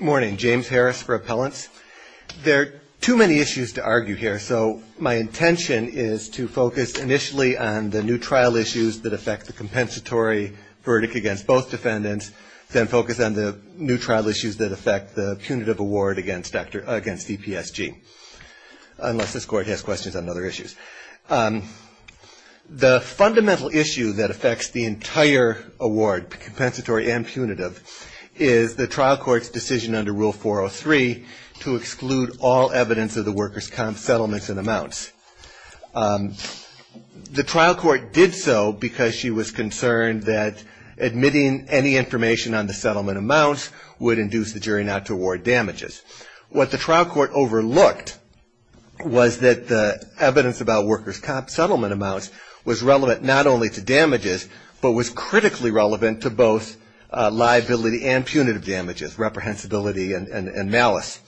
Morning. James Harris for Appellants. There are too many issues to argue here, so my intention is to focus initially on the new trial issues that affect the compensatory verdict against both defendants, then focus on the new trial issues that affect the punitive award against EPSG, unless this Court has questions on other issues. The fundamental issue that affects the entire award, compensatory and punitive, is the trial court's decision under Rule 403 to exclude all evidence of the workers' comp settlements and amounts. The trial court did so because she was concerned that admitting any information on the settlement amounts would induce the jury not to award damages. What the trial court overlooked was that the evidence about workers' comp settlement amounts was relevant not only to damages, but was critically relevant to both liability and punitive damages, reprehensibility and malice.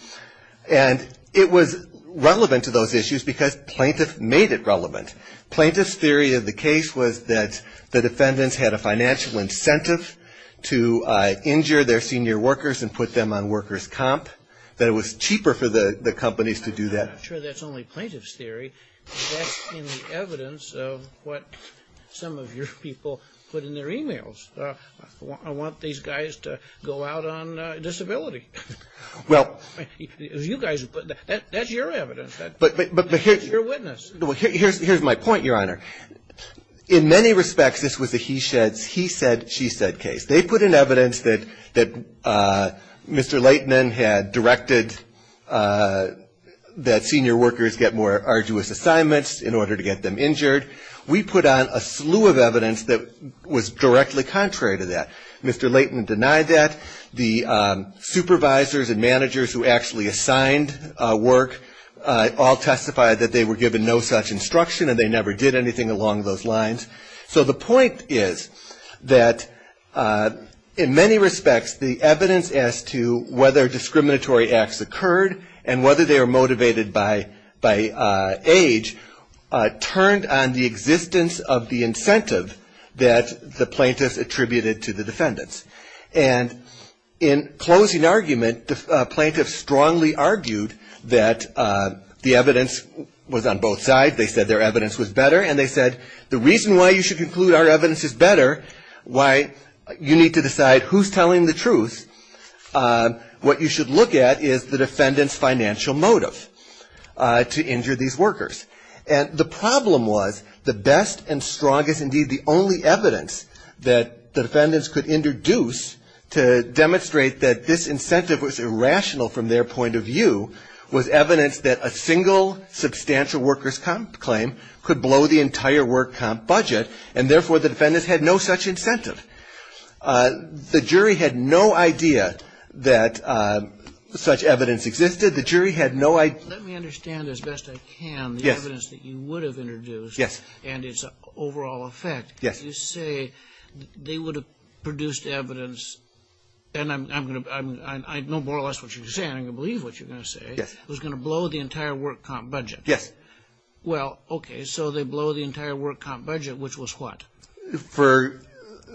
And it was relevant to those issues because plaintiffs made it relevant. Plaintiffs' theory of the case was that the defendants had a financial incentive to injure their senior workers and put them on workers' comp, that it was cheaper for the companies to do that. I'm not sure that's only plaintiffs' theory. That's in the evidence of what some of your people put in their e-mails. I want these guys to go out on disability. Well. That's your evidence. That's your witness. Well, here's my point, Your Honor. In many respects, this was a he said, she said case. They put in evidence that Mr. Leighton had directed that senior workers get more arduous assignments in order to get them injured. We put on a slew of evidence that was directly contrary to that. Mr. Leighton denied that. The supervisors and managers who actually assigned work all testified that they were given no such instruction and they never did anything along those lines. So the point is that in many respects, the evidence as to whether discriminatory acts occurred and whether they were motivated by age turned on the existence of the incentive that the plaintiffs attributed to the defendants. And in closing argument, the plaintiffs strongly argued that the evidence was on both sides. They said their evidence was better and they said the reason why you should conclude our evidence is better, why you need to decide who's telling the truth, what you should look at is the defendant's financial motive to injure these workers. And the problem was the best and strongest, indeed, the only evidence that the defendants could introduce to demonstrate that this incentive was irrational from their point of view was evidence that a single substantial workers' comp claim could blow the entire work comp budget and therefore the defendants had no such incentive. The jury had no idea that such evidence existed. The jury had no idea. Let me understand as best I can the evidence that you would have introduced. Yes. And its overall effect. Yes. You say they would have produced evidence and I know more or less what you're saying, I believe what you're going to say. Yes. It was going to blow the entire work comp budget. Yes. Well, okay, so they blow the entire work comp budget, which was what? For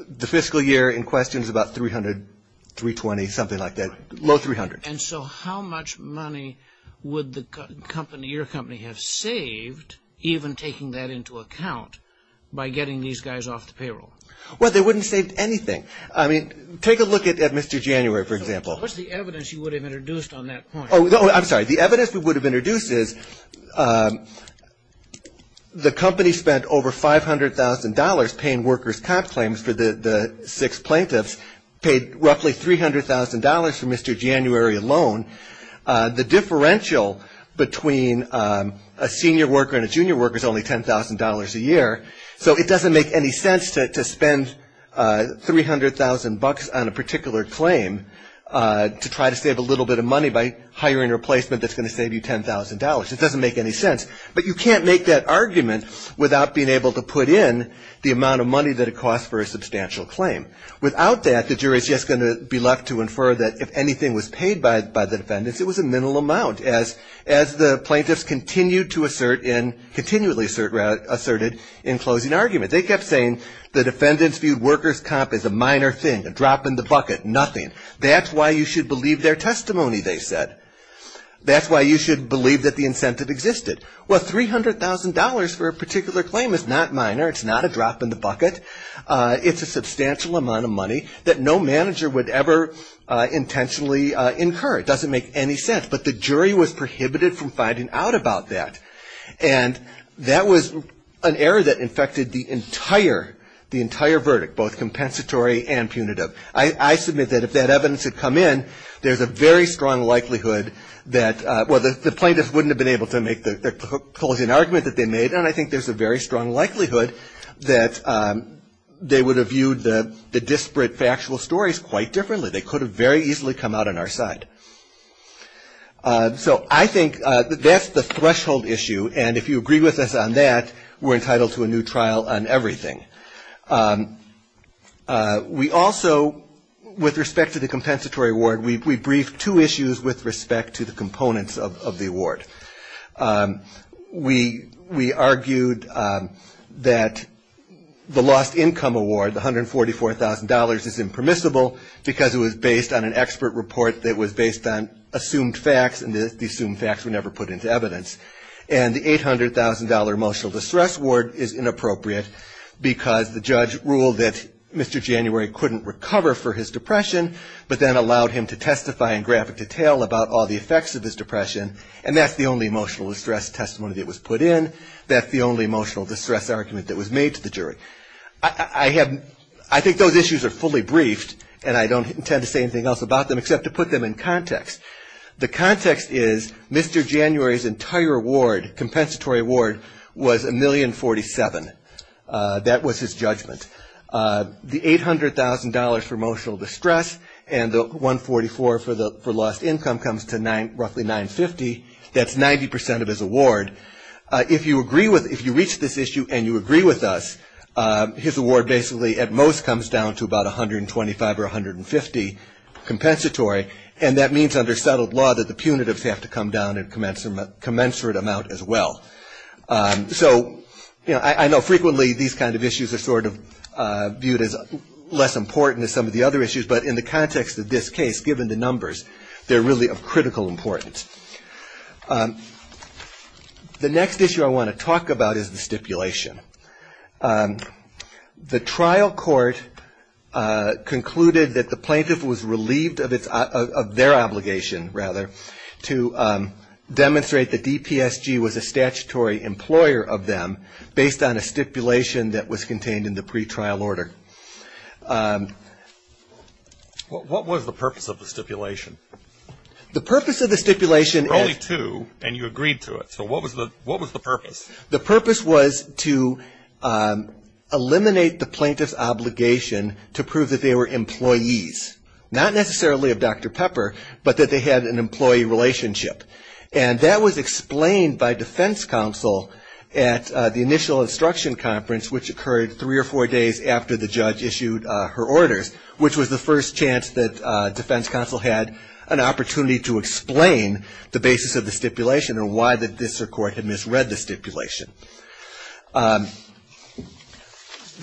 the fiscal year in questions about 300, 320, something like that, low 300. And so how much money would the company, your company, have saved even taking that into account by getting these guys off the payroll? Well, they wouldn't have saved anything. I mean, take a look at Mr. January, for example. What's the evidence you would have introduced on that point? The evidence we would have introduced is the company spent over $500,000 paying workers' comp claims for the six plaintiffs, paid roughly $300,000 for Mr. January alone. The differential between a senior worker and a junior worker is only $10,000 a year. So it doesn't make any sense to spend $300,000 on a particular claim to try to save a little bit of money by hiring a replacement that's going to save you $10,000. It doesn't make any sense. But you can't make that argument without being able to put in the amount of money that it costs for a substantial claim. Without that, the jury is just going to be left to infer that if anything was paid by the defendants, it was a minimal amount. As the plaintiffs continued to assert in, continually asserted in closing argument. They kept saying the defendants viewed workers' comp as a minor thing, a drop in the bucket, nothing. That's why you should believe their testimony, they said. That's why you should believe that the incentive existed. Well, $300,000 for a particular claim is not minor. It's not a drop in the bucket. It's a substantial amount of money that no manager would ever intentionally incur. It doesn't make any sense. But the jury was prohibited from finding out about that. And that was an error that infected the entire verdict, both compensatory and punitive. I submit that if that evidence had come in, there's a very strong likelihood that, well, the plaintiffs wouldn't have been able to make the closing argument that they made. And I think there's a very strong likelihood that they would have viewed the disparate factual stories quite differently. They could have very easily come out on our side. So I think that's the threshold issue. And if you agree with us on that, we're entitled to a new trial on everything. We also, with respect to the compensatory award, we briefed two issues with respect to the components of the award. We argued that the lost income award, the $144,000, is impermissible because it was based on an expert report that was based on assumed facts, and the assumed facts were never put into evidence. And the $800,000 emotional distress award is inappropriate because the judge ruled that Mr. January couldn't recover for his depression, but then allowed him to testify in graphic detail about all the effects of his depression. And that's the only emotional distress testimony that was put in. That's the only emotional distress argument that was made to the jury. I think those issues are fully briefed, and I don't intend to say anything else about them except to put them in context. The context is Mr. January's entire award, compensatory award, was $1,047,000. That was his judgment. The $800,000 for emotional distress and the $144,000 for lost income comes to roughly $950,000. That's 90% of his award. If you reach this issue and you agree with us, his award basically at most comes down to about $125,000 or $150,000 compensatory, and that means under settled law that the punitives have to come down in commensurate amount as well. So I know frequently these kind of issues are sort of viewed as less important than some of the other issues, but in the context of this case, given the numbers, they're really of critical importance. The next issue I want to talk about is the stipulation. The trial court concluded that the plaintiff was relieved of their obligation, rather, to demonstrate that DPSG was a statutory employer of them based on a stipulation that was contained in the pretrial order. What was the purpose of the stipulation? The purpose of the stipulation is- There were only two and you agreed to it, so what was the purpose? The purpose was to eliminate the plaintiff's obligation to prove that they were employees, not necessarily of Dr. Pepper, but that they had an employee relationship. And that was explained by defense counsel at the initial instruction conference, which occurred three or four days after the judge issued her orders, which was the first chance that defense counsel had an opportunity to explain the basis of the stipulation and why the district court had misread the stipulation. The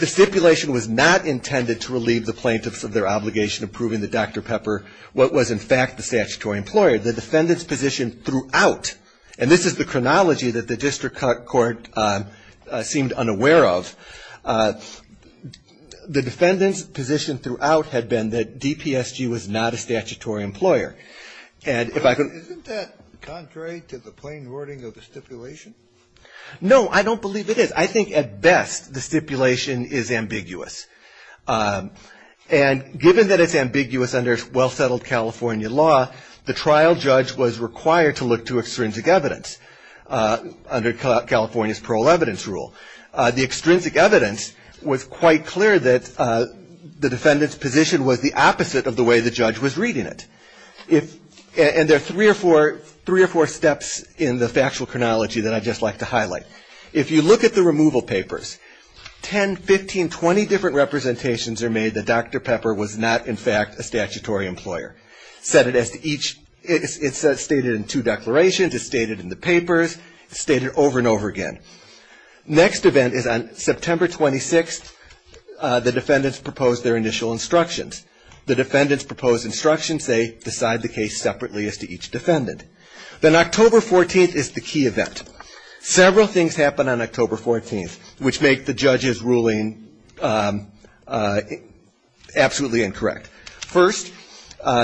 stipulation was not intended to relieve the plaintiffs of their obligation of proving that Dr. Pepper was, in fact, the statutory employer. The defendant's position throughout- and this is the chronology that the district court seemed unaware of- the defendant's position throughout had been that DPSG was not a statutory employer. And if I could- Isn't that contrary to the plain wording of the stipulation? No, I don't believe it is. I think at best the stipulation is ambiguous. And given that it's ambiguous under well-settled California law, the trial judge was required to look to extrinsic evidence under California's parole evidence rule. The extrinsic evidence was quite clear that the defendant's position was the opposite of the way the judge was reading it. And there are three or four steps in the factual chronology that I'd just like to highlight. If you look at the removal papers, 10, 15, 20 different representations are made that Dr. Pepper was not, in fact, a statutory employer. It's stated in two declarations, it's stated in the papers, it's stated over and over again. Next event is on September 26th, the defendants propose their initial instructions. The defendants propose instructions, they decide the case separately as to each defendant. Then October 14th is the key event. Several things happen on October 14th, which make the judge's ruling absolutely incorrect. First,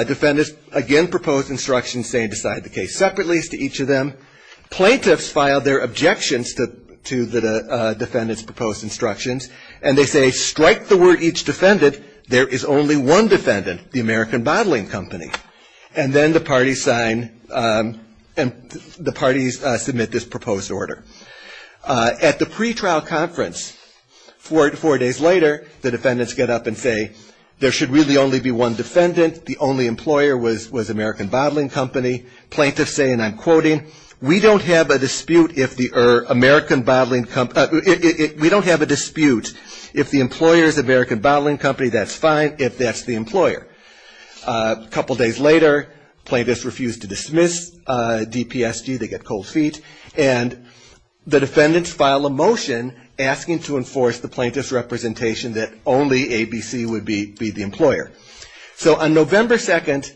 defendants again propose instructions saying decide the case separately as to each of them. Plaintiffs file their objections to the defendants' proposed instructions, and they say strike the word each defendant. There is only one defendant, the American Bottling Company. And then the parties sign and the parties submit this proposed order. At the pretrial conference, four days later, the defendants get up and say there should really only be one defendant. The only employer was American Bottling Company. Plaintiffs say, and I'm quoting, we don't have a dispute if the American Bottling Company, we don't have a dispute if the employer is American Bottling Company, that's fine, if that's the employer. A couple days later, plaintiffs refuse to dismiss DPSG, they get cold feet. And the defendants file a motion asking to enforce the plaintiff's representation that only ABC would be the employer. So on November 2nd,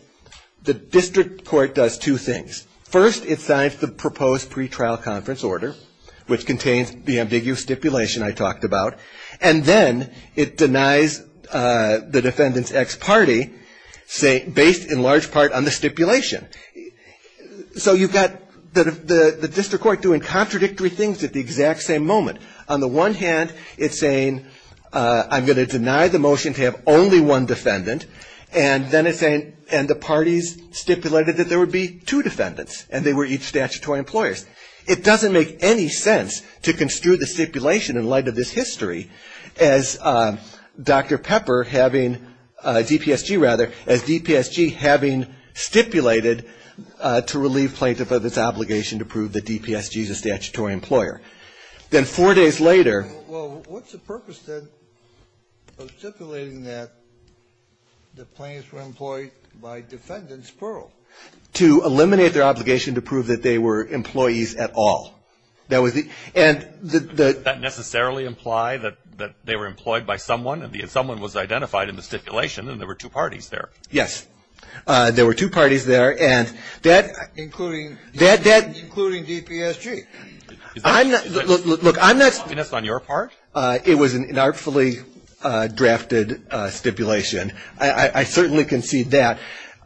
the district court does two things. First, it signs the proposed pretrial conference order, which contains the ambiguous stipulation I talked about. And then it denies the defendant's ex-party based in large part on the stipulation. So you've got the district court doing contradictory things at the exact same moment. On the one hand, it's saying, I'm going to deny the motion to have only one defendant. And then it's saying, and the parties stipulated that there would be two defendants, and they were each statutory employers. It doesn't make any sense to construe the stipulation in light of this history as Dr. Pepper having, DPSG rather, as DPSG having stipulated to relieve plaintiff of its obligation to prove that DPSG is a statutory employer. Then four days later -- Well, what's the purpose, then, of stipulating that the plaintiffs were employed by defendants plural? To eliminate their obligation to prove that they were employees at all. That was the -- Does that necessarily imply that they were employed by someone, and someone was identified in the stipulation, and there were two parties there? Yes. There were two parties there, and that -- Including DPSG. Look, I'm not -- And that's on your part? It was an artfully drafted stipulation. I certainly concede that.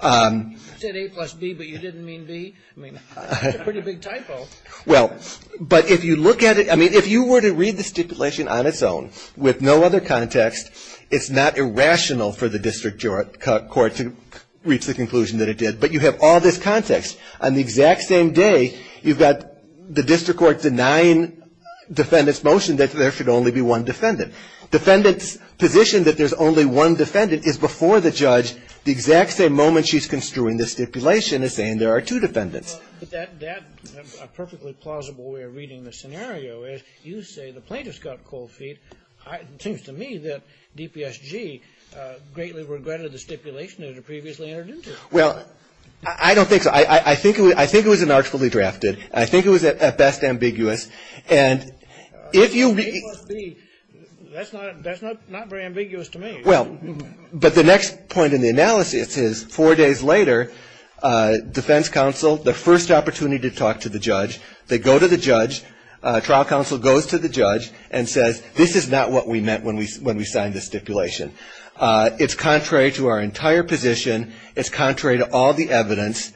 You said A plus B, but you didn't mean B? I mean, that's a pretty big typo. Well, but if you look at it, I mean, if you were to read the stipulation on its own with no other context, it's not irrational for the district court to reach the conclusion that it did. But you have all this context. On the exact same day, you've got the district court denying defendants' motion that there should only be one defendant. Defendants' position that there's only one defendant is before the judge the exact same moment she's construing this stipulation as saying there are two defendants. But that's a perfectly plausible way of reading the scenario, is you say the plaintiffs got cold feet. It seems to me that DPSG greatly regretted the stipulation that it had previously entered into. Well, I don't think so. I think it was an artfully drafted. I think it was, at best, ambiguous. And if you read it. A plus B, that's not very ambiguous to me. Well, but the next point in the analysis is four days later, defense counsel, the first opportunity to talk to the judge, they go to the judge. Trial counsel goes to the judge and says, this is not what we meant when we signed the stipulation. It's contrary to our entire position. It's contrary to all the evidence.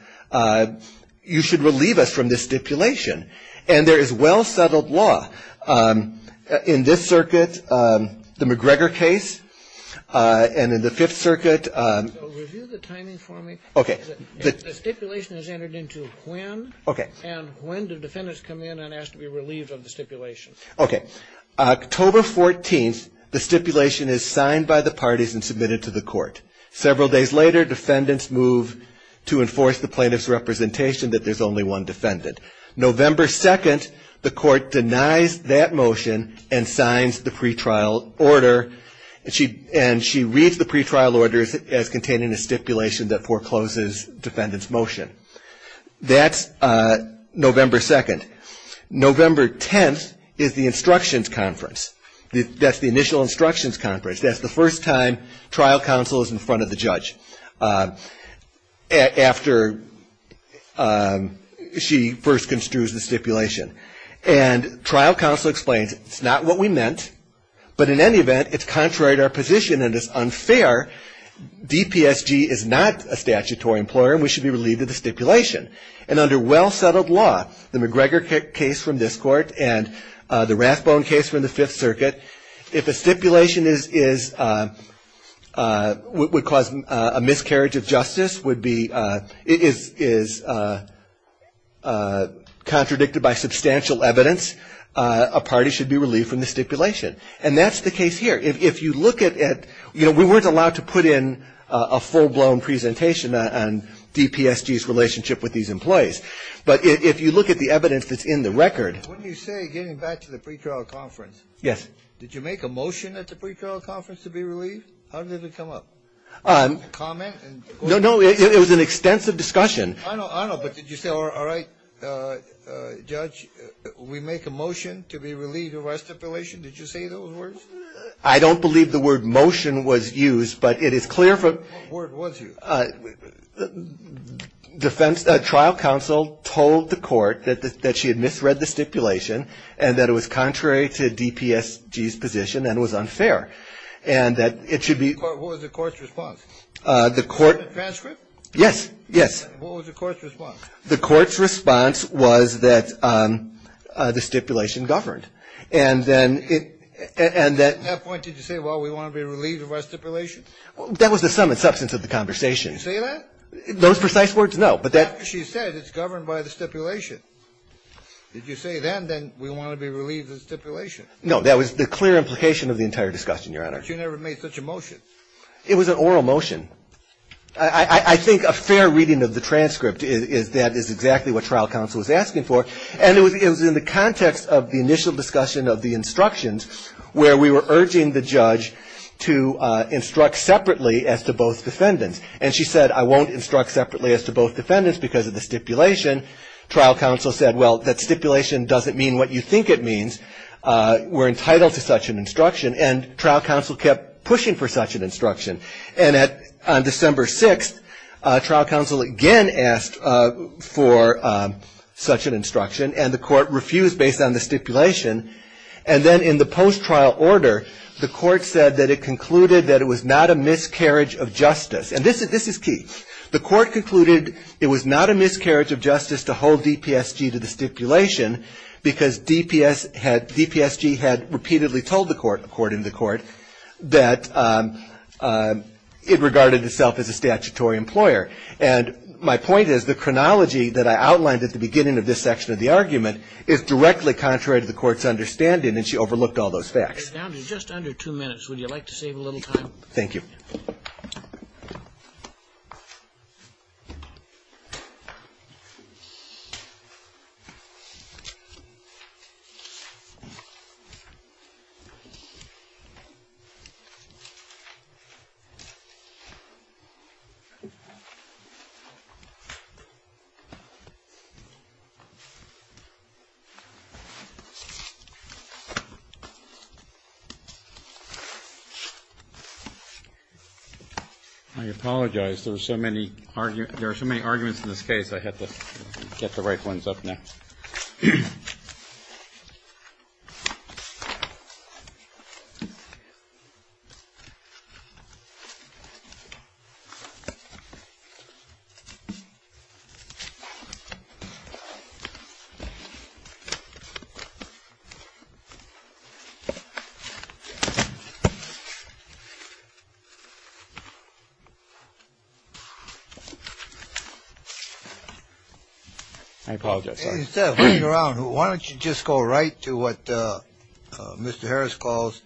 You should relieve us from this stipulation. And there is well-settled law in this circuit, the McGregor case, and in the Fifth Circuit. So review the timing for me. Okay. The stipulation is entered into when. Okay. And when do defendants come in and ask to be relieved of the stipulation? Okay. October 14th, the stipulation is signed by the parties and submitted to the court. Several days later, defendants move to enforce the plaintiff's representation that there's only one defendant. November 2nd, the court denies that motion and signs the pretrial order. And she reads the pretrial order as containing a stipulation that forecloses defendant's motion. That's November 2nd. November 10th is the instructions conference. That's the initial instructions conference. That's the first time trial counsel is in front of the judge after she first construes the stipulation. And trial counsel explains it's not what we meant, but in any event, it's contrary to our position and it's unfair. DPSG is not a statutory employer and we should be relieved of the stipulation. And under well-settled law, the McGregor case from this court and the Rathbone case from the Fifth Circuit, if a stipulation is, would cause a miscarriage of justice, would be, is contradicted by substantial evidence, a party should be relieved from the stipulation. And that's the case here. If you look at, you know, we weren't allowed to put in a full-blown presentation on DPSG's relationship with these employees. But if you look at the evidence that's in the record. When you say getting back to the pretrial conference. Yes. Did you make a motion at the pretrial conference to be relieved? How did it come up? Comment? No, no. It was an extensive discussion. I know, I know. But did you say, all right, judge, we make a motion to be relieved of our stipulation? Did you say those words? I don't believe the word motion was used, but it is clear from. What word was used? Defense, trial counsel told the court that she had misread the stipulation and that it was contrary to DPSG's position and was unfair. And that it should be. What was the court's response? The court. Transcript? Yes, yes. What was the court's response? The court's response was that the stipulation governed. And then it, and that. At what point did you say, well, we want to be relieved of our stipulation? That was the sum and substance of the conversation. Did you say that? Those precise words, no. But that. She said it's governed by the stipulation. Did you say then that we want to be relieved of the stipulation? No. That was the clear implication of the entire discussion, Your Honor. But you never made such a motion. It was an oral motion. I think a fair reading of the transcript is that is exactly what trial counsel was asking for. And it was in the context of the initial discussion of the instructions, where we were urging the judge to instruct separately as to both defendants. And she said, I won't instruct separately as to both defendants because of the stipulation. Trial counsel said, well, that stipulation doesn't mean what you think it means. We're entitled to such an instruction. And trial counsel kept pushing for such an instruction. And on December 6th, trial counsel again asked for such an instruction, and the court refused based on the stipulation. And then in the post-trial order, the court said that it concluded that it was not a miscarriage of justice. And this is key. The court concluded it was not a miscarriage of justice to hold DPSG to the stipulation because DPSG had repeatedly told the court, according to the court, that it regarded itself as a statutory employer. And my point is the chronology that I outlined at the beginning of this section of the argument is directly contrary to the court's understanding, and she overlooked all those facts. Your time is just under two minutes. Would you like to save a little time? Thank you. I apologize. There are so many arguments in this case, I have to get the right ones up next. I apologize. Why don't you just go right to what Mr. Harris calls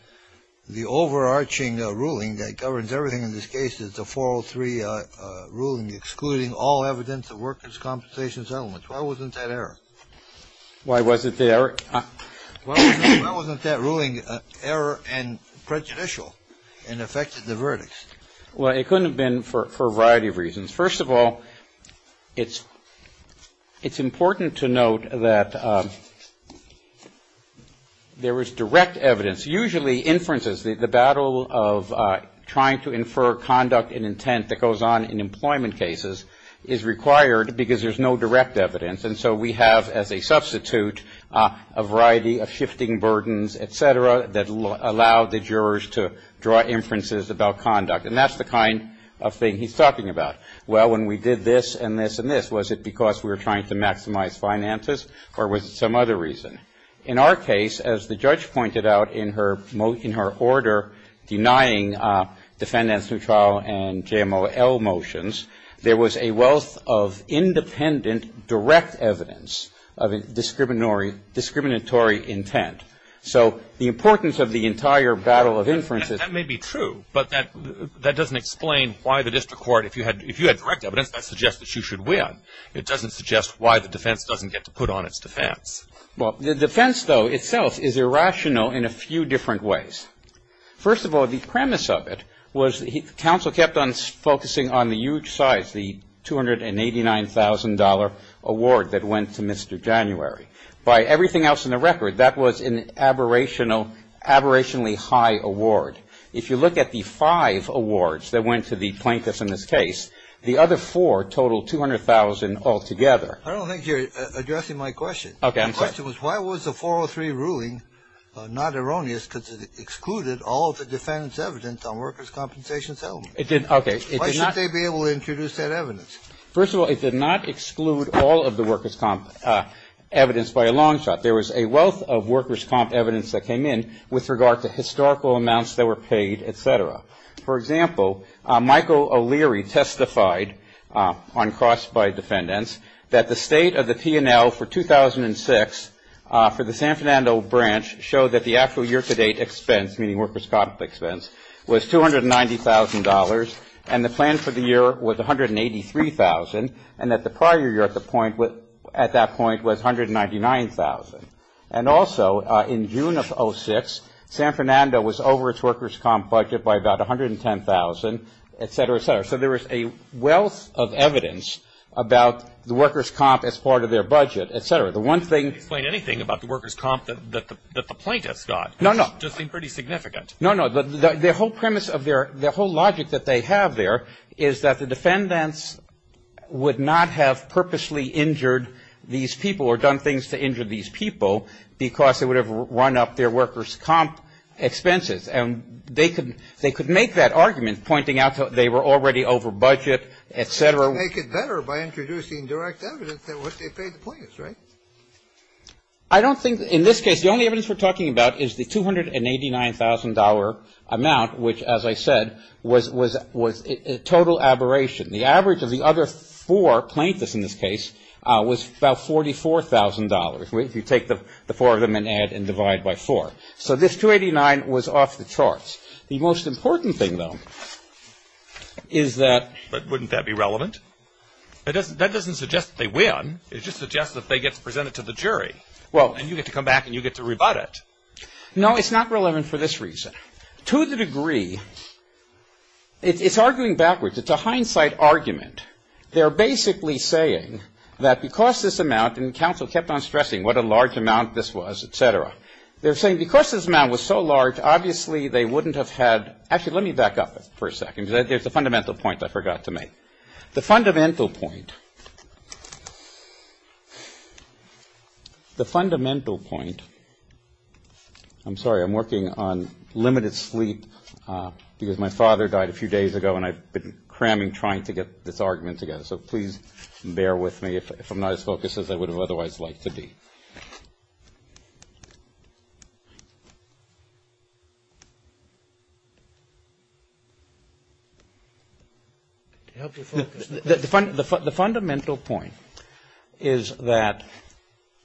the overarching ruling that governs everything in this case. It's a 403 ruling excluding all evidence of workers' compensation settlements. Why wasn't that error? Why wasn't that ruling error and prejudicial and affected the verdicts? Well, it couldn't have been for a variety of reasons. First of all, it's important to note that there was direct evidence. Usually inferences, the battle of trying to infer conduct and intent that goes on in employment cases is required because there's no direct evidence, and so we have as a substitute a variety of shifting burdens, et cetera, that allow the jurors to draw inferences about conduct, and that's the kind of thing he's talking about. Well, when we did this and this and this, was it because we were trying to maximize finances or was it some other reason? In our case, as the judge pointed out in her order denying defendants' new trial and JML motions, there was a wealth of independent direct evidence of discriminatory intent. So the importance of the entire battle of inferences. That may be true, but that doesn't explain why the district court, if you had direct evidence, that suggests that you should win. It doesn't suggest why the defense doesn't get to put on its defense. Well, the defense, though, itself is irrational in a few different ways. First of all, the premise of it was the council kept on focusing on the huge size, the $289,000 award that went to Mr. January. By everything else in the record, that was an aberrationally high award. If you look at the five awards that went to the plaintiffs in this case, the other four totaled $200,000 altogether. I don't think you're addressing my question. Okay, I'm sorry. My question was why was the 403 ruling not erroneous because it excluded all of the defendants' evidence on workers' compensation settlement? It did not. Why should they be able to introduce that evidence? First of all, it did not exclude all of the workers' comp evidence by a long shot. There was a wealth of workers' comp evidence that came in with regard to historical amounts that were paid, et cetera. For example, Michael O'Leary testified on cross-by defendants that the state of the P&L for 2006 for the San Fernando branch showed that the actual year-to-date expense, meaning workers' comp expense, was $290,000, and the plan for the year was $183,000, and that the prior year at that point was $199,000. And also, in June of 2006, San Fernando was over its workers' comp budget by about $110,000, et cetera, et cetera. So there was a wealth of evidence about the workers' comp as part of their budget, et cetera. The one thing — Explain anything about the workers' comp that the plaintiffs got. No, no. The whole premise of their — the whole logic that they have there is that the defendants would not have purposely injured these people or done things to injure these people because they would have run up their workers' comp expenses. And they could make that argument, pointing out that they were already over budget, et cetera. They could make it better by introducing direct evidence that what they paid the plaintiffs, I don't think — in this case, the only evidence we're talking about is the $289,000 amount, which, as I said, was total aberration. The average of the other four plaintiffs in this case was about $44,000, if you take the four of them and add and divide by four. So this $289,000 was off the charts. The most important thing, though, is that — But wouldn't that be relevant? That doesn't suggest that they win. It just suggests that they get to present it to the jury. Well — And you get to come back and you get to rebut it. No, it's not relevant for this reason. To the degree — it's arguing backwards. It's a hindsight argument. They're basically saying that because this amount — and counsel kept on stressing what a large amount this was, et cetera. They're saying because this amount was so large, obviously they wouldn't have had — actually, let me back up for a second. There's a fundamental point I forgot to make. The fundamental point — the fundamental point — I'm sorry, I'm working on limited sleep because my father died a few days ago and I've been cramming trying to get this argument together, so please bear with me if I'm not as focused as I would have otherwise liked to be. Did I help you focus? The fundamental point is that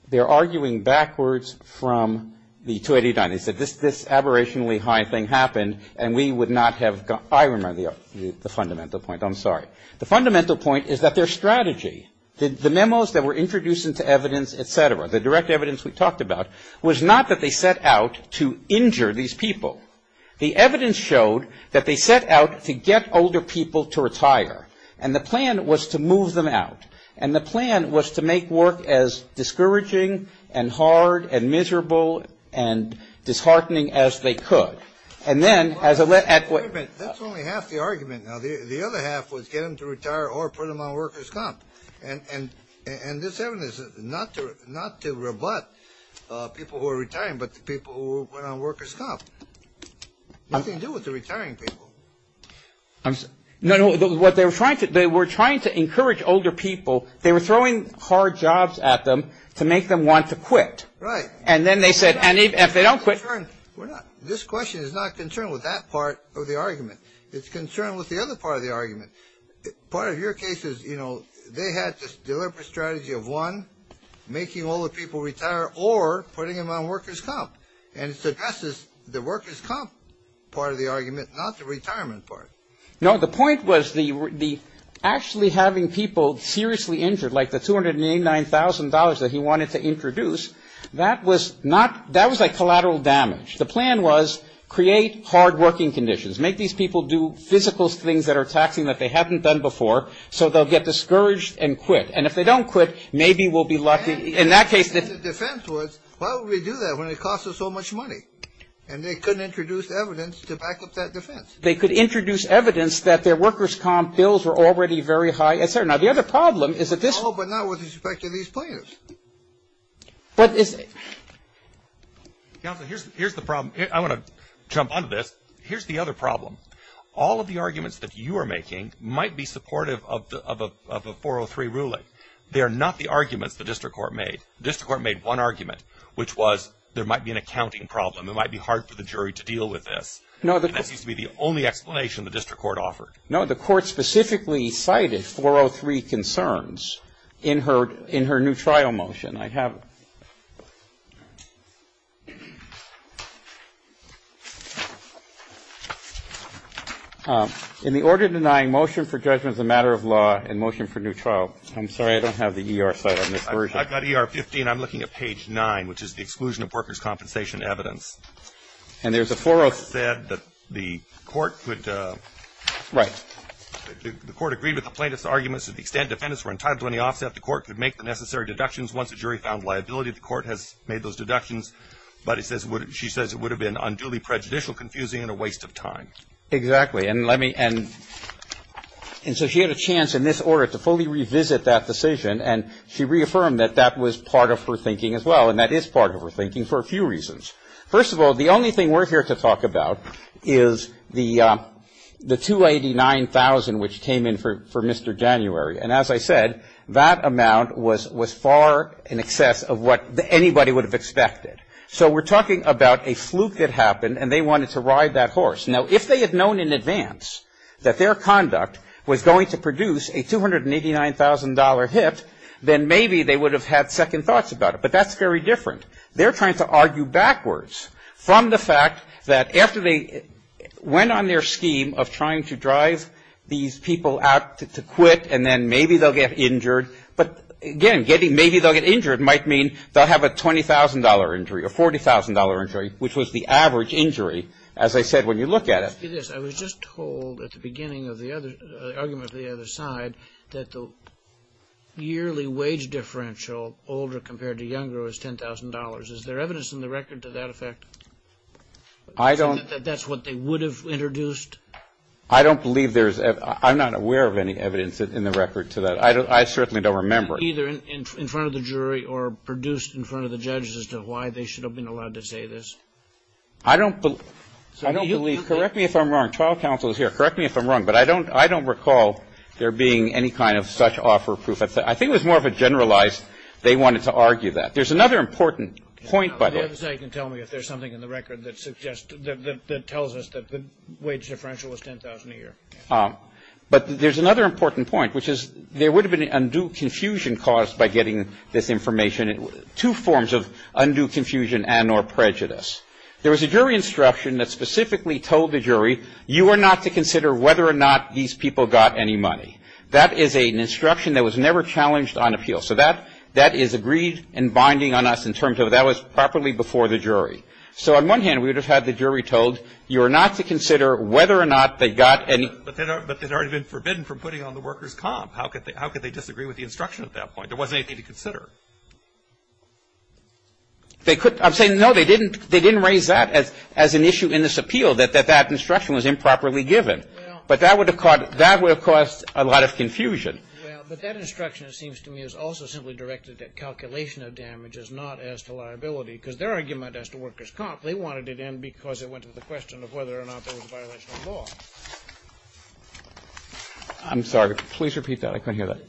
they're arguing backwards from the 289. They said this aberrationally high thing happened and we would not have — I remember the fundamental point. I'm sorry. The fundamental point is that their strategy, the memos that were introduced into evidence, et cetera, the direct evidence we talked about, was not that they set out to injure these people. The evidence showed that they set out to get older people to retire. And the plan was to move them out. And the plan was to make work as discouraging and hard and miserable and disheartening as they could. And then as a — Wait a minute. That's only half the argument. Now, the other half was get them to retire or put them on workers' comp. And this evidence is not to rebut people who are retiring but the people who went on workers' comp. Nothing to do with the retiring people. No, no. What they were trying to — they were trying to encourage older people. They were throwing hard jobs at them to make them want to quit. Right. And then they said if they don't quit — We're not — this question is not concerned with that part of the argument. It's concerned with the other part of the argument. Part of your case is, you know, they had this deliberate strategy of, one, making older people retire or putting them on workers' comp. And it suggests the workers' comp part of the argument, not the retirement part. No, the point was the actually having people seriously injured, like the $289,000 that he wanted to introduce, that was not — that was like collateral damage. The plan was create hard-working conditions. Make these people do physical things that are taxing that they haven't done before so they'll get discouraged and quit. And if they don't quit, maybe we'll be lucky. In that case — And the defense was, why would we do that when it costs us so much money? And they couldn't introduce evidence to back up that defense. They could introduce evidence that their workers' comp bills were already very high, et cetera. Now, the other problem is that this — Oh, but not with respect to these plaintiffs. But it's — Counsel, here's the problem. I want to jump onto this. Here's the other problem. All of the arguments that you are making might be supportive of a 403 ruling. They are not the arguments the district court made. The district court made one argument, which was there might be an accounting problem. It might be hard for the jury to deal with this. And that seems to be the only explanation the district court offered. No, the court specifically cited 403 concerns in her new trial motion. And I have — In the order denying motion for judgment as a matter of law and motion for new trial — I'm sorry, I don't have the ER site on this version. I've got ER 15. I'm looking at page 9, which is the exclusion of workers' compensation evidence. And there's a 4-0 — The court said that the court could — Right. The court agreed with the plaintiff's arguments to the extent defendants were entitled to any offset, the court could make the necessary deductions once the jury found liability. The court has made those deductions. But it says — she says it would have been unduly prejudicial, confusing, and a waste of time. Exactly. And let me — and so she had a chance in this order to fully revisit that decision. And she reaffirmed that that was part of her thinking as well. And that is part of her thinking for a few reasons. First of all, the only thing we're here to talk about is the 289,000 which came in for Mr. January. And as I said, that amount was far in excess of what anybody would have expected. So we're talking about a fluke that happened, and they wanted to ride that horse. Now, if they had known in advance that their conduct was going to produce a $289,000 hit, then maybe they would have had second thoughts about it. But that's very different. They're trying to argue backwards from the fact that after they went on their scheme of trying to drive these people out to quit and then maybe they'll get injured. But, again, getting — maybe they'll get injured might mean they'll have a $20,000 injury or $40,000 injury, which was the average injury, as I said, when you look at it. Let me ask you this. I was just told at the beginning of the other — the argument of the other side that the yearly wage differential, older compared to younger, was $10,000. Is there evidence in the record to that effect? I don't — That that's what they would have introduced? I don't believe there's — I'm not aware of any evidence in the record to that. I certainly don't remember. Either in front of the jury or produced in front of the judges as to why they should have been allowed to say this? I don't believe. Correct me if I'm wrong. Trial counsel is here. Correct me if I'm wrong. But I don't recall there being any kind of such offer of proof. I think it was more of a generalized — they wanted to argue that. There's another important point, by the way. The other side can tell me if there's something in the record that suggests — that tells us that the wage differential is $10,000 a year. But there's another important point, which is there would have been undue confusion caused by getting this information. Two forms of undue confusion and or prejudice. There was a jury instruction that specifically told the jury, you are not to consider whether or not these people got any money. That is an instruction that was never challenged on appeal. So that is agreed and binding on us in terms of that was properly before the jury. So on one hand, we would have had the jury told, you are not to consider whether or not they got any — But they'd already been forbidden from putting on the workers' comp. How could they disagree with the instruction at that point? There wasn't anything to consider. I'm saying, no, they didn't raise that as an issue in this appeal, that that instruction was improperly given. But that would have caused a lot of confusion. Well, but that instruction, it seems to me, is also simply directed at calculation of damages, not as to liability. Because their argument as to workers' comp, they wanted it in because it went to the question of whether or not there was a violation of law. I'm sorry. Please repeat that. I couldn't hear that.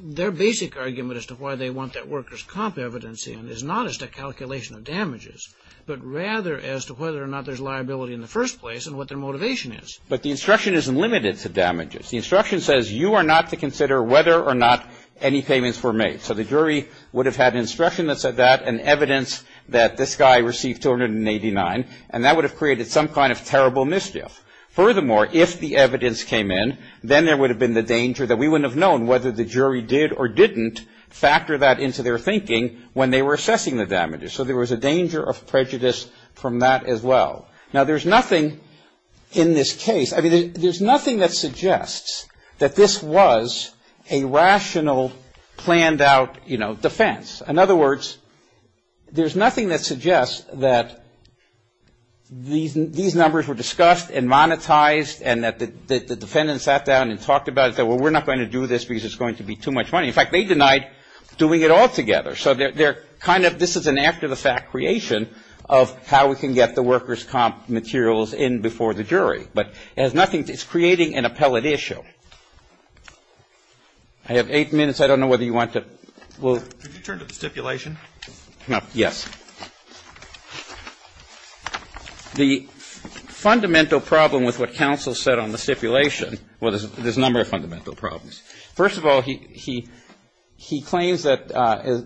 Their basic argument as to why they want that workers' comp evidence in is not as to calculation of damages, but rather as to whether or not there's liability in the first place and what their motivation is. But the instruction isn't limited to damages. The instruction says you are not to consider whether or not any payments were made. So the jury would have had instruction that said that and evidence that this guy received 289, and that would have created some kind of terrible mischief. Furthermore, if the evidence came in, then there would have been the danger that we wouldn't have known whether the jury did or didn't factor that into their thinking when they were assessing the damages. So there was a danger of prejudice from that as well. Now, there's nothing in this case, I mean, there's nothing that suggests that this was a rational, planned-out, you know, defense. In other words, there's nothing that suggests that these numbers were discussed and monetized and that the defendants sat down and talked about it and said, well, we're not going to do this because it's going to be too much money. In fact, they denied doing it altogether. So they're kind of, this is an act-of-the-fact creation of how we can get the workers' comp materials in before the jury. But it has nothing, it's creating an appellate issue. I have eight minutes. I don't know whether you want to, well. Could you turn to the stipulation? Kneedler. Yes. The fundamental problem with what counsel said on the stipulation, well, there's a number of fundamental problems. First of all, he claims that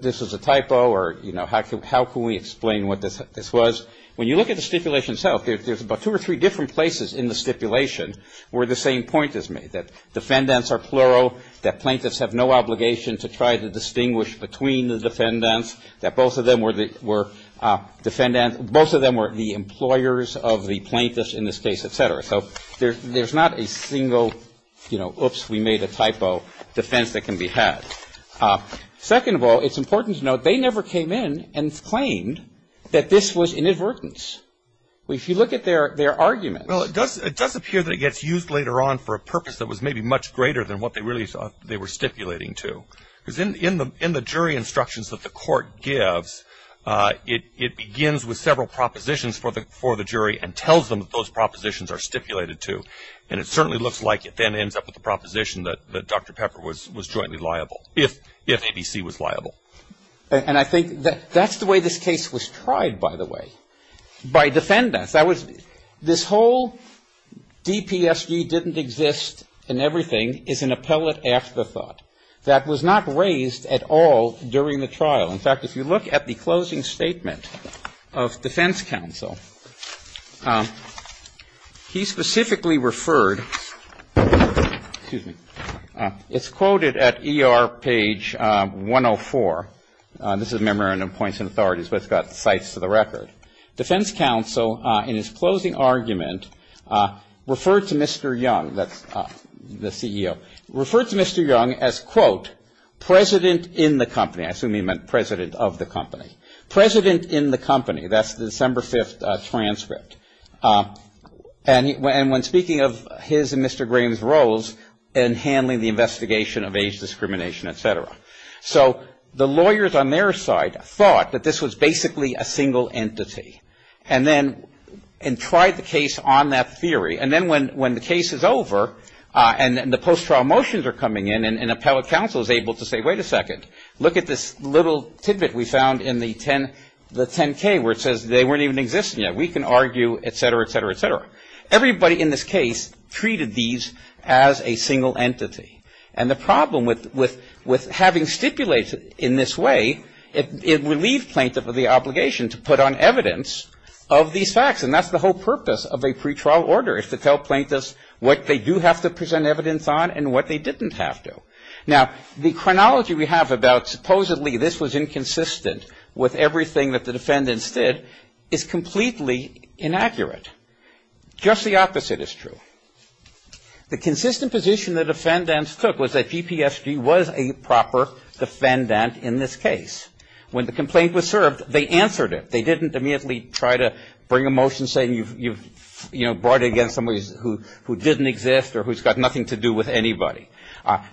this was a typo or, you know, how can we explain what this was? When you look at the stipulation itself, there's about two or three different places in the stipulation where the same point is made, that defendants are plural, that plaintiffs have no obligation to try to distinguish between the defendants, that both of them were defendants, both of them were the employers of the plaintiffs in this case, et cetera. So there's not a single, you know, oops, we made a typo, defense that can be had. Second of all, it's important to note they never came in and claimed that this was inadvertence. If you look at their arguments. Well, it does appear that it gets used later on for a purpose that was maybe much greater than what they were stipulating to. Because in the jury instructions that the court gives, it begins with several propositions for the jury and tells them that those propositions are stipulated to. And it certainly looks like it then ends up with a proposition that Dr. Pepper was jointly liable, if ABC was liable. And I think that's the way this case was tried, by the way, by defendants. This whole DPSG didn't exist and everything is an appellate afterthought that was not raised at all during the trial. In fact, if you look at the closing statement of defense counsel, he specifically referred, excuse me. It's quoted at ER page 104. This is a memorandum of points and authorities, but it's got cites to the record. Defense counsel, in his closing argument, referred to Mr. Young, the CEO, referred to Mr. Young as, quote, president in the company. I assume he meant president of the company. President in the company. That's the December 5th transcript. And when speaking of his and Mr. Graham's roles in handling the investigation of age discrimination, et cetera. So the lawyers on their side thought that this was basically a single entity. And then tried the case on that theory. And then when the case is over and the post-trial motions are coming in and appellate counsel is able to say, wait a second. Look at this little tidbit we found in the 10K where it says they weren't even existing yet. We can argue, et cetera, et cetera, et cetera. Everybody in this case treated these as a single entity. And the problem with having stipulated in this way, it would leave plaintiff with the obligation to put on evidence of these facts. And that's the whole purpose of a pretrial order. Is to tell plaintiffs what they do have to present evidence on and what they didn't have to. Now, the chronology we have about supposedly this was inconsistent with everything that the defendants did is completely inaccurate. Just the opposite is true. The consistent position the defendants took was that GPSG was a proper defendant in this case. When the complaint was served, they answered it. They didn't immediately try to bring a motion saying you've brought it against somebody who didn't exist or who's got nothing to do with anybody.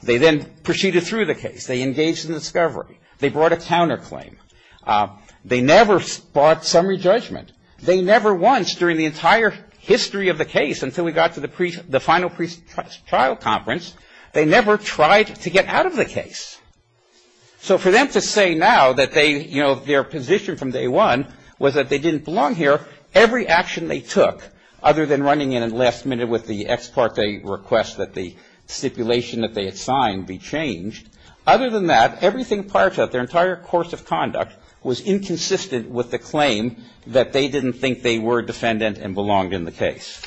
They then proceeded through the case. They engaged in discovery. They brought a counterclaim. They never brought summary judgment. They never once during the entire history of the case until we got to the final pretrial conference, they never tried to get out of the case. So for them to say now that they, you know, their position from day one was that they didn't belong here, every action they took, other than running in at the last minute with the ex parte request that the stipulation that they had signed be changed, other than that, everything prior to that, their entire course of conduct, was inconsistent with the claim that they didn't think they were a defendant and belonged in the case.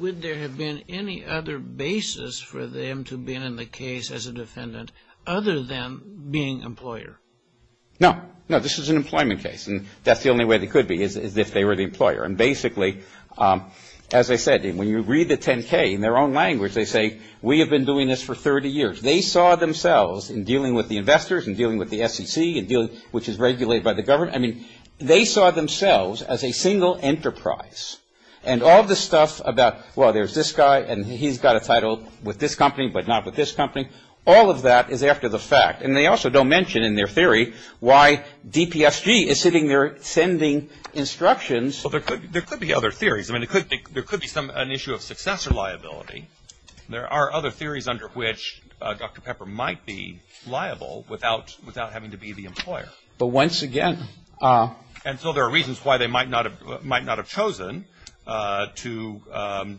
Would there have been any other basis for them to have been in the case as a defendant other than being employer? No. No. This is an employment case. And that's the only way they could be is if they were the employer. And basically, as I said, when you read the 10-K in their own language, they say we have been doing this for 30 years. They saw themselves in dealing with the investors and dealing with the SEC, which is regulated by the government, I mean, they saw themselves as a single enterprise. And all the stuff about, well, there's this guy and he's got a title with this company but not with this company, all of that is after the fact. And they also don't mention in their theory why DPSG is sitting there sending instructions. Well, there could be other theories. I mean, there could be an issue of successor liability. There are other theories under which Dr. Pepper might be liable without having to be the employer. But once again. And so there are reasons why they might not have chosen to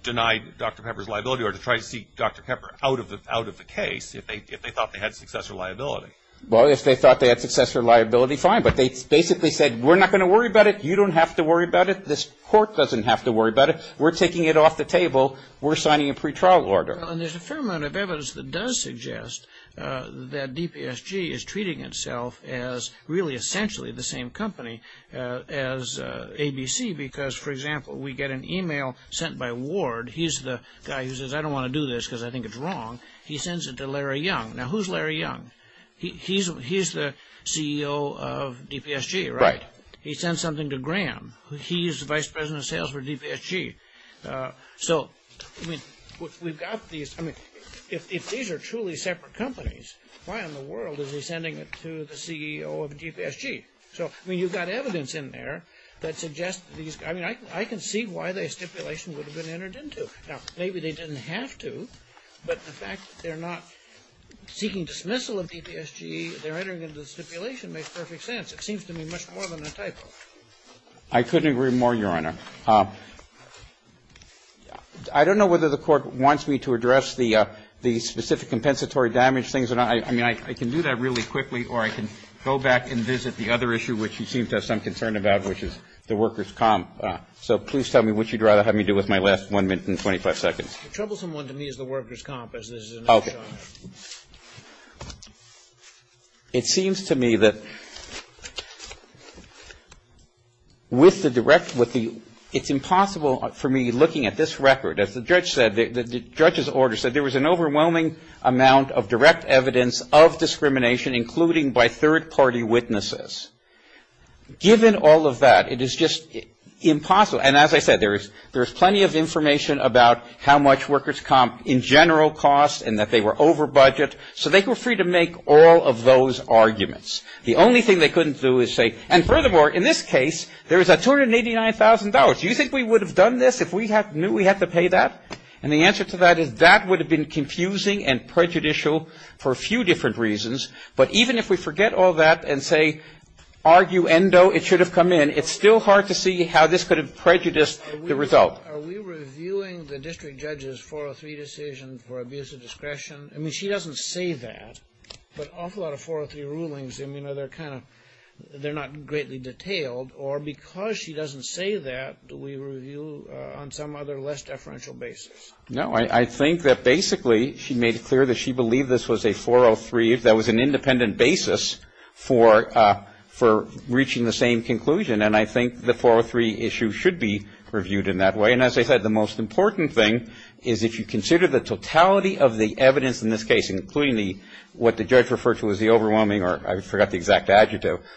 deny Dr. Pepper's liability or to try to seek Dr. Pepper out of the case if they thought they had successor liability. Well, if they thought they had successor liability, fine. But they basically said we're not going to worry about it. You don't have to worry about it. This court doesn't have to worry about it. We're taking it off the table. We're signing a pretrial order. And there's a fair amount of evidence that does suggest that DPSG is treating itself as really essentially the same company as ABC because, for example, we get an e-mail sent by Ward. He's the guy who says, I don't want to do this because I think it's wrong. He sends it to Larry Young. Now, who's Larry Young? He's the CEO of DPSG, right? He sent something to Graham. He's the vice president of sales for DPSG. So, I mean, we've got these – I mean, if these are truly separate companies, why in the world is he sending it to the CEO of DPSG? So, I mean, you've got evidence in there that suggests these – I mean, I can see why the stipulation would have been entered into. Now, maybe they didn't have to, but the fact that they're not seeking dismissal of DPSG, they're entering into the stipulation makes perfect sense. It seems to me much more than a typo. I couldn't agree more, Your Honor. I don't know whether the Court wants me to address the specific compensatory damage things or not. I mean, I can do that really quickly, or I can go back and visit the other issue, which you seem to have some concern about, which is the workers' comp. So please tell me what you'd rather have me do with my last 1 minute and 25 seconds. The troublesome one to me is the workers' comp, as this is another charge. Okay. It seems to me that with the – it's impossible for me looking at this record. As the judge said, the judge's order said there was an overwhelming amount of direct evidence of discrimination, including by third-party witnesses. Given all of that, it is just impossible. And as I said, there is plenty of information about how much workers' comp in general costs and that they were over budget, so they were free to make all of those arguments. The only thing they couldn't do is say – and furthermore, in this case, there is a $289,000. Do you think we would have done this if we knew we had to pay that? And the answer to that is that would have been confusing and prejudicial for a few different reasons. But even if we forget all that and say, arguendo, it should have come in, it's still hard to see how this could have prejudiced the result. Are we reviewing the district judge's 403 decision for abuse of discretion? I mean, she doesn't say that. But an awful lot of 403 rulings, I mean, they're kind of – they're not greatly detailed. Or because she doesn't say that, do we review on some other less deferential basis? No. I think that basically she made it clear that she believed this was a 403 – that was an independent basis for reaching the same conclusion. And I think the 403 issue should be reviewed in that way. And as I said, the most important thing is if you consider the totality of the evidence in this case, including the – what the judge referred to as the overwhelming – or I forgot the exact adjective –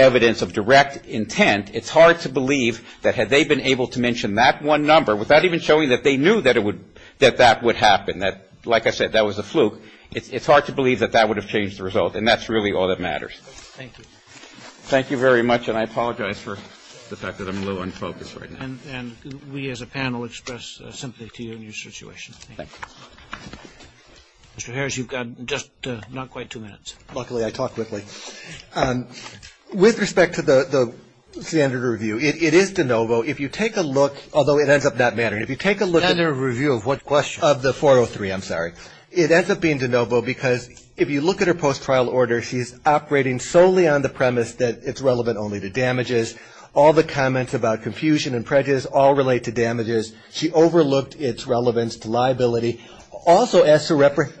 evidence of direct intent, it's hard to believe that had they been able to mention that one number without even showing that they knew that it would – that that would happen. That, like I said, that was a fluke. It's hard to believe that that would have changed the result. And that's really all that matters. Thank you. Thank you very much. And I apologize for the fact that I'm a little unfocused right now. And we as a panel express sympathy to you and your situation. Thank you. Mr. Harris, you've got just not quite two minutes. Luckily, I talk quickly. With respect to the standard review, it is de novo. If you take a look – although it ends up not mattering. If you take a look at the – Standard review of what question? Of the 403, I'm sorry. It ends up being de novo because if you look at her post-trial order, she's operating solely on the premise that it's relevant only to damages. All the comments about confusion and prejudice all relate to damages. She overlooked its relevance to liability. Also as to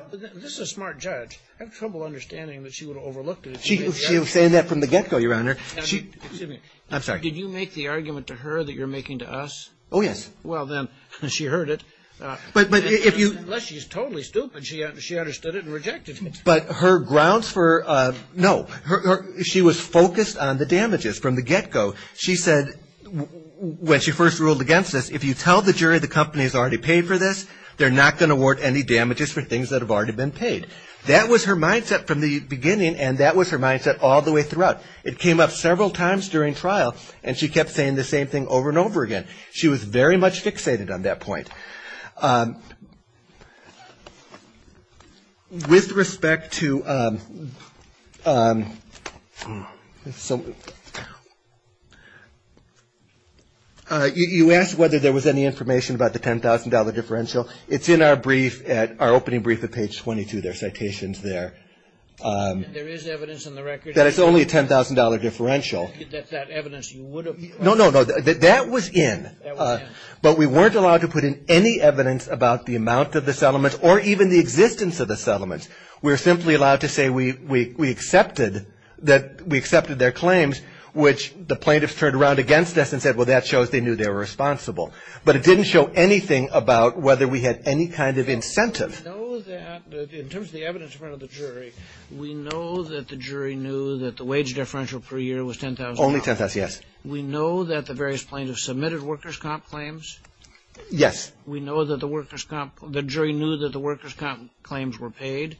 – This is a smart judge. I have trouble understanding that she would have overlooked it. She was saying that from the get-go, Your Honor. Excuse me. I'm sorry. Did you make the argument to her that you're making to us? Oh, yes. Well, then, she heard it. But if you – Unless she's totally stupid, she understood it and rejected it. But her grounds for – No. She was focused on the damages from the get-go. She said when she first ruled against this, if you tell the jury the company has already paid for this, they're not going to award any damages for things that have already been paid. That was her mindset from the beginning, and that was her mindset all the way throughout. It came up several times during trial, and she kept saying the same thing over and over again. She was very much fixated on that point. With respect to – you asked whether there was any information about the $10,000 differential. It's in our brief, our opening brief at page 22. There are citations there. There is evidence in the record. That it's only a $10,000 differential. That evidence you would have – No, no, no. That was in. That was in. But we weren't allowed to put in any evidence about the amount of the settlements or even the existence of the settlements. We were simply allowed to say we accepted their claims, which the plaintiffs turned around against us and said, well, that shows they knew they were responsible. But it didn't show anything about whether we had any kind of incentive. We know that – in terms of the evidence in front of the jury, we know that the jury knew that the wage differential per year was $10,000. Only $10,000, yes. We know that the various plaintiffs submitted workers' comp claims. Yes. We know that the workers' comp – the jury knew that the workers' comp claims were paid.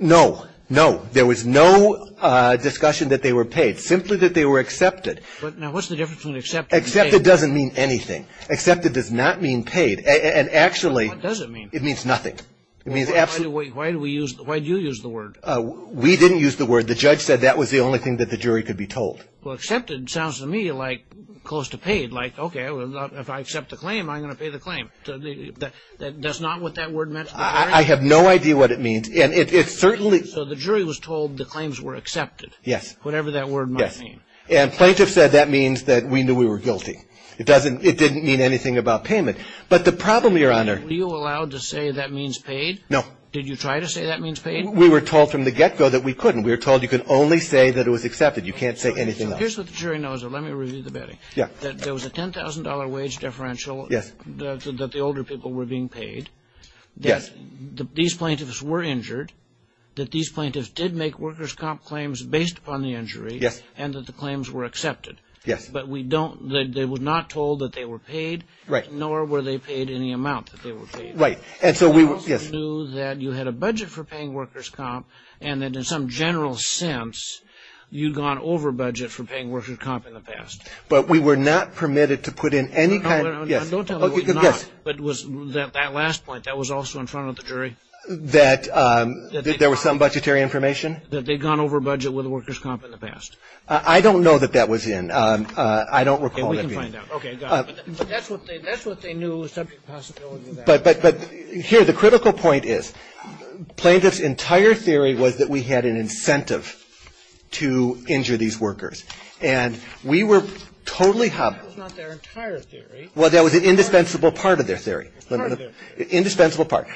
No. No. There was no discussion that they were paid. Simply that they were accepted. Now, what's the difference between accepted and paid? Accepted doesn't mean anything. Accepted does not mean paid. And actually – What does it mean? It means nothing. It means absolutely – Why do we use – why do you use the word? We didn't use the word. The judge said that was the only thing that the jury could be told. Well, accepted sounds to me like close to paid. Like, okay, if I accept the claim, I'm going to pay the claim. That's not what that word meant to the jury? I have no idea what it means. And it certainly – So the jury was told the claims were accepted. Yes. Whatever that word might mean. Yes. And plaintiffs said that means that we knew we were guilty. It doesn't – it didn't mean anything about payment. But the problem, Your Honor – Were you allowed to say that means paid? No. Did you try to say that means paid? We were told from the get-go that we couldn't. We were told you could only say that it was accepted. You can't say anything else. Here's what the jury knows, though. Let me review the betting. Yeah. That there was a $10,000 wage deferential. Yes. That the older people were being paid. Yes. That these plaintiffs were injured. That these plaintiffs did make workers' comp claims based upon the injury. Yes. And that the claims were accepted. Yes. But we don't – they were not told that they were paid. Right. Nor were they paid any amount that they were paid. Right. And so we – yes. We also knew that you had a budget for paying workers' comp and that in some general sense you'd gone over budget for paying workers' comp in the past. But we were not permitted to put in any kind of – yes. Don't tell me you were not. Yes. But was that last point, that was also in front of the jury? That there was some budgetary information? That they'd gone over budget with workers' comp in the past. I don't know that that was in. I don't recall that being. Okay. We can find out. Okay. Got it. But that's what they knew was subject to possibility of that. But here, the critical point is, plaintiff's entire theory was that we had an incentive to injure these workers. And we were totally – That was not their entire theory. Well, that was an indispensable part of their theory. Part of their theory. Indispensable part.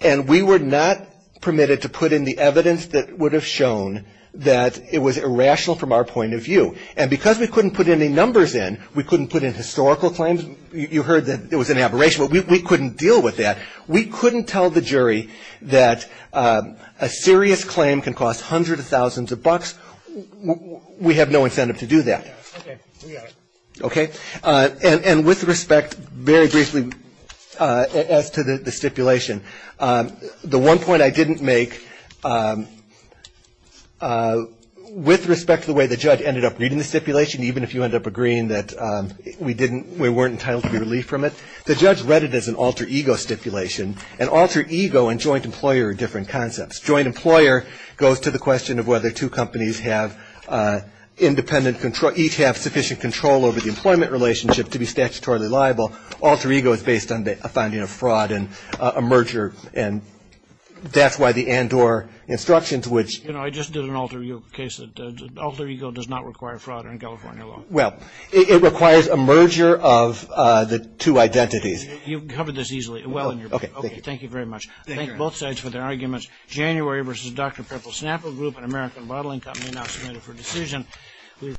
And we were not permitted to put in the evidence that would have shown that it was irrational from our point of view. And because we couldn't put any numbers in, we couldn't put in historical claims. You heard that it was an aberration. We couldn't deal with that. We couldn't tell the jury that a serious claim can cost hundreds of thousands of bucks. We have no incentive to do that. Okay. We got it. Okay. And with respect, very briefly, as to the stipulation, the one point I didn't make, with respect to the way the judge ended up reading the stipulation, even if you end up agreeing that we weren't entitled to be relieved from it, the judge read it as an alter ego stipulation. An alter ego and joint employer are different concepts. Joint employer goes to the question of whether two companies have independent – each have sufficient control over the employment relationship to be statutorily liable. Alter ego is based on a finding of fraud and a merger. And that's why the Andor instructions, which – Well, it requires a merger of the two identities. You've covered this easily well in your book. Okay, thank you. Thank you very much. Thank you. I thank both sides for their arguments. January v. Dr. Prepl Snapper Group, an American bottling company, now submitted for decision.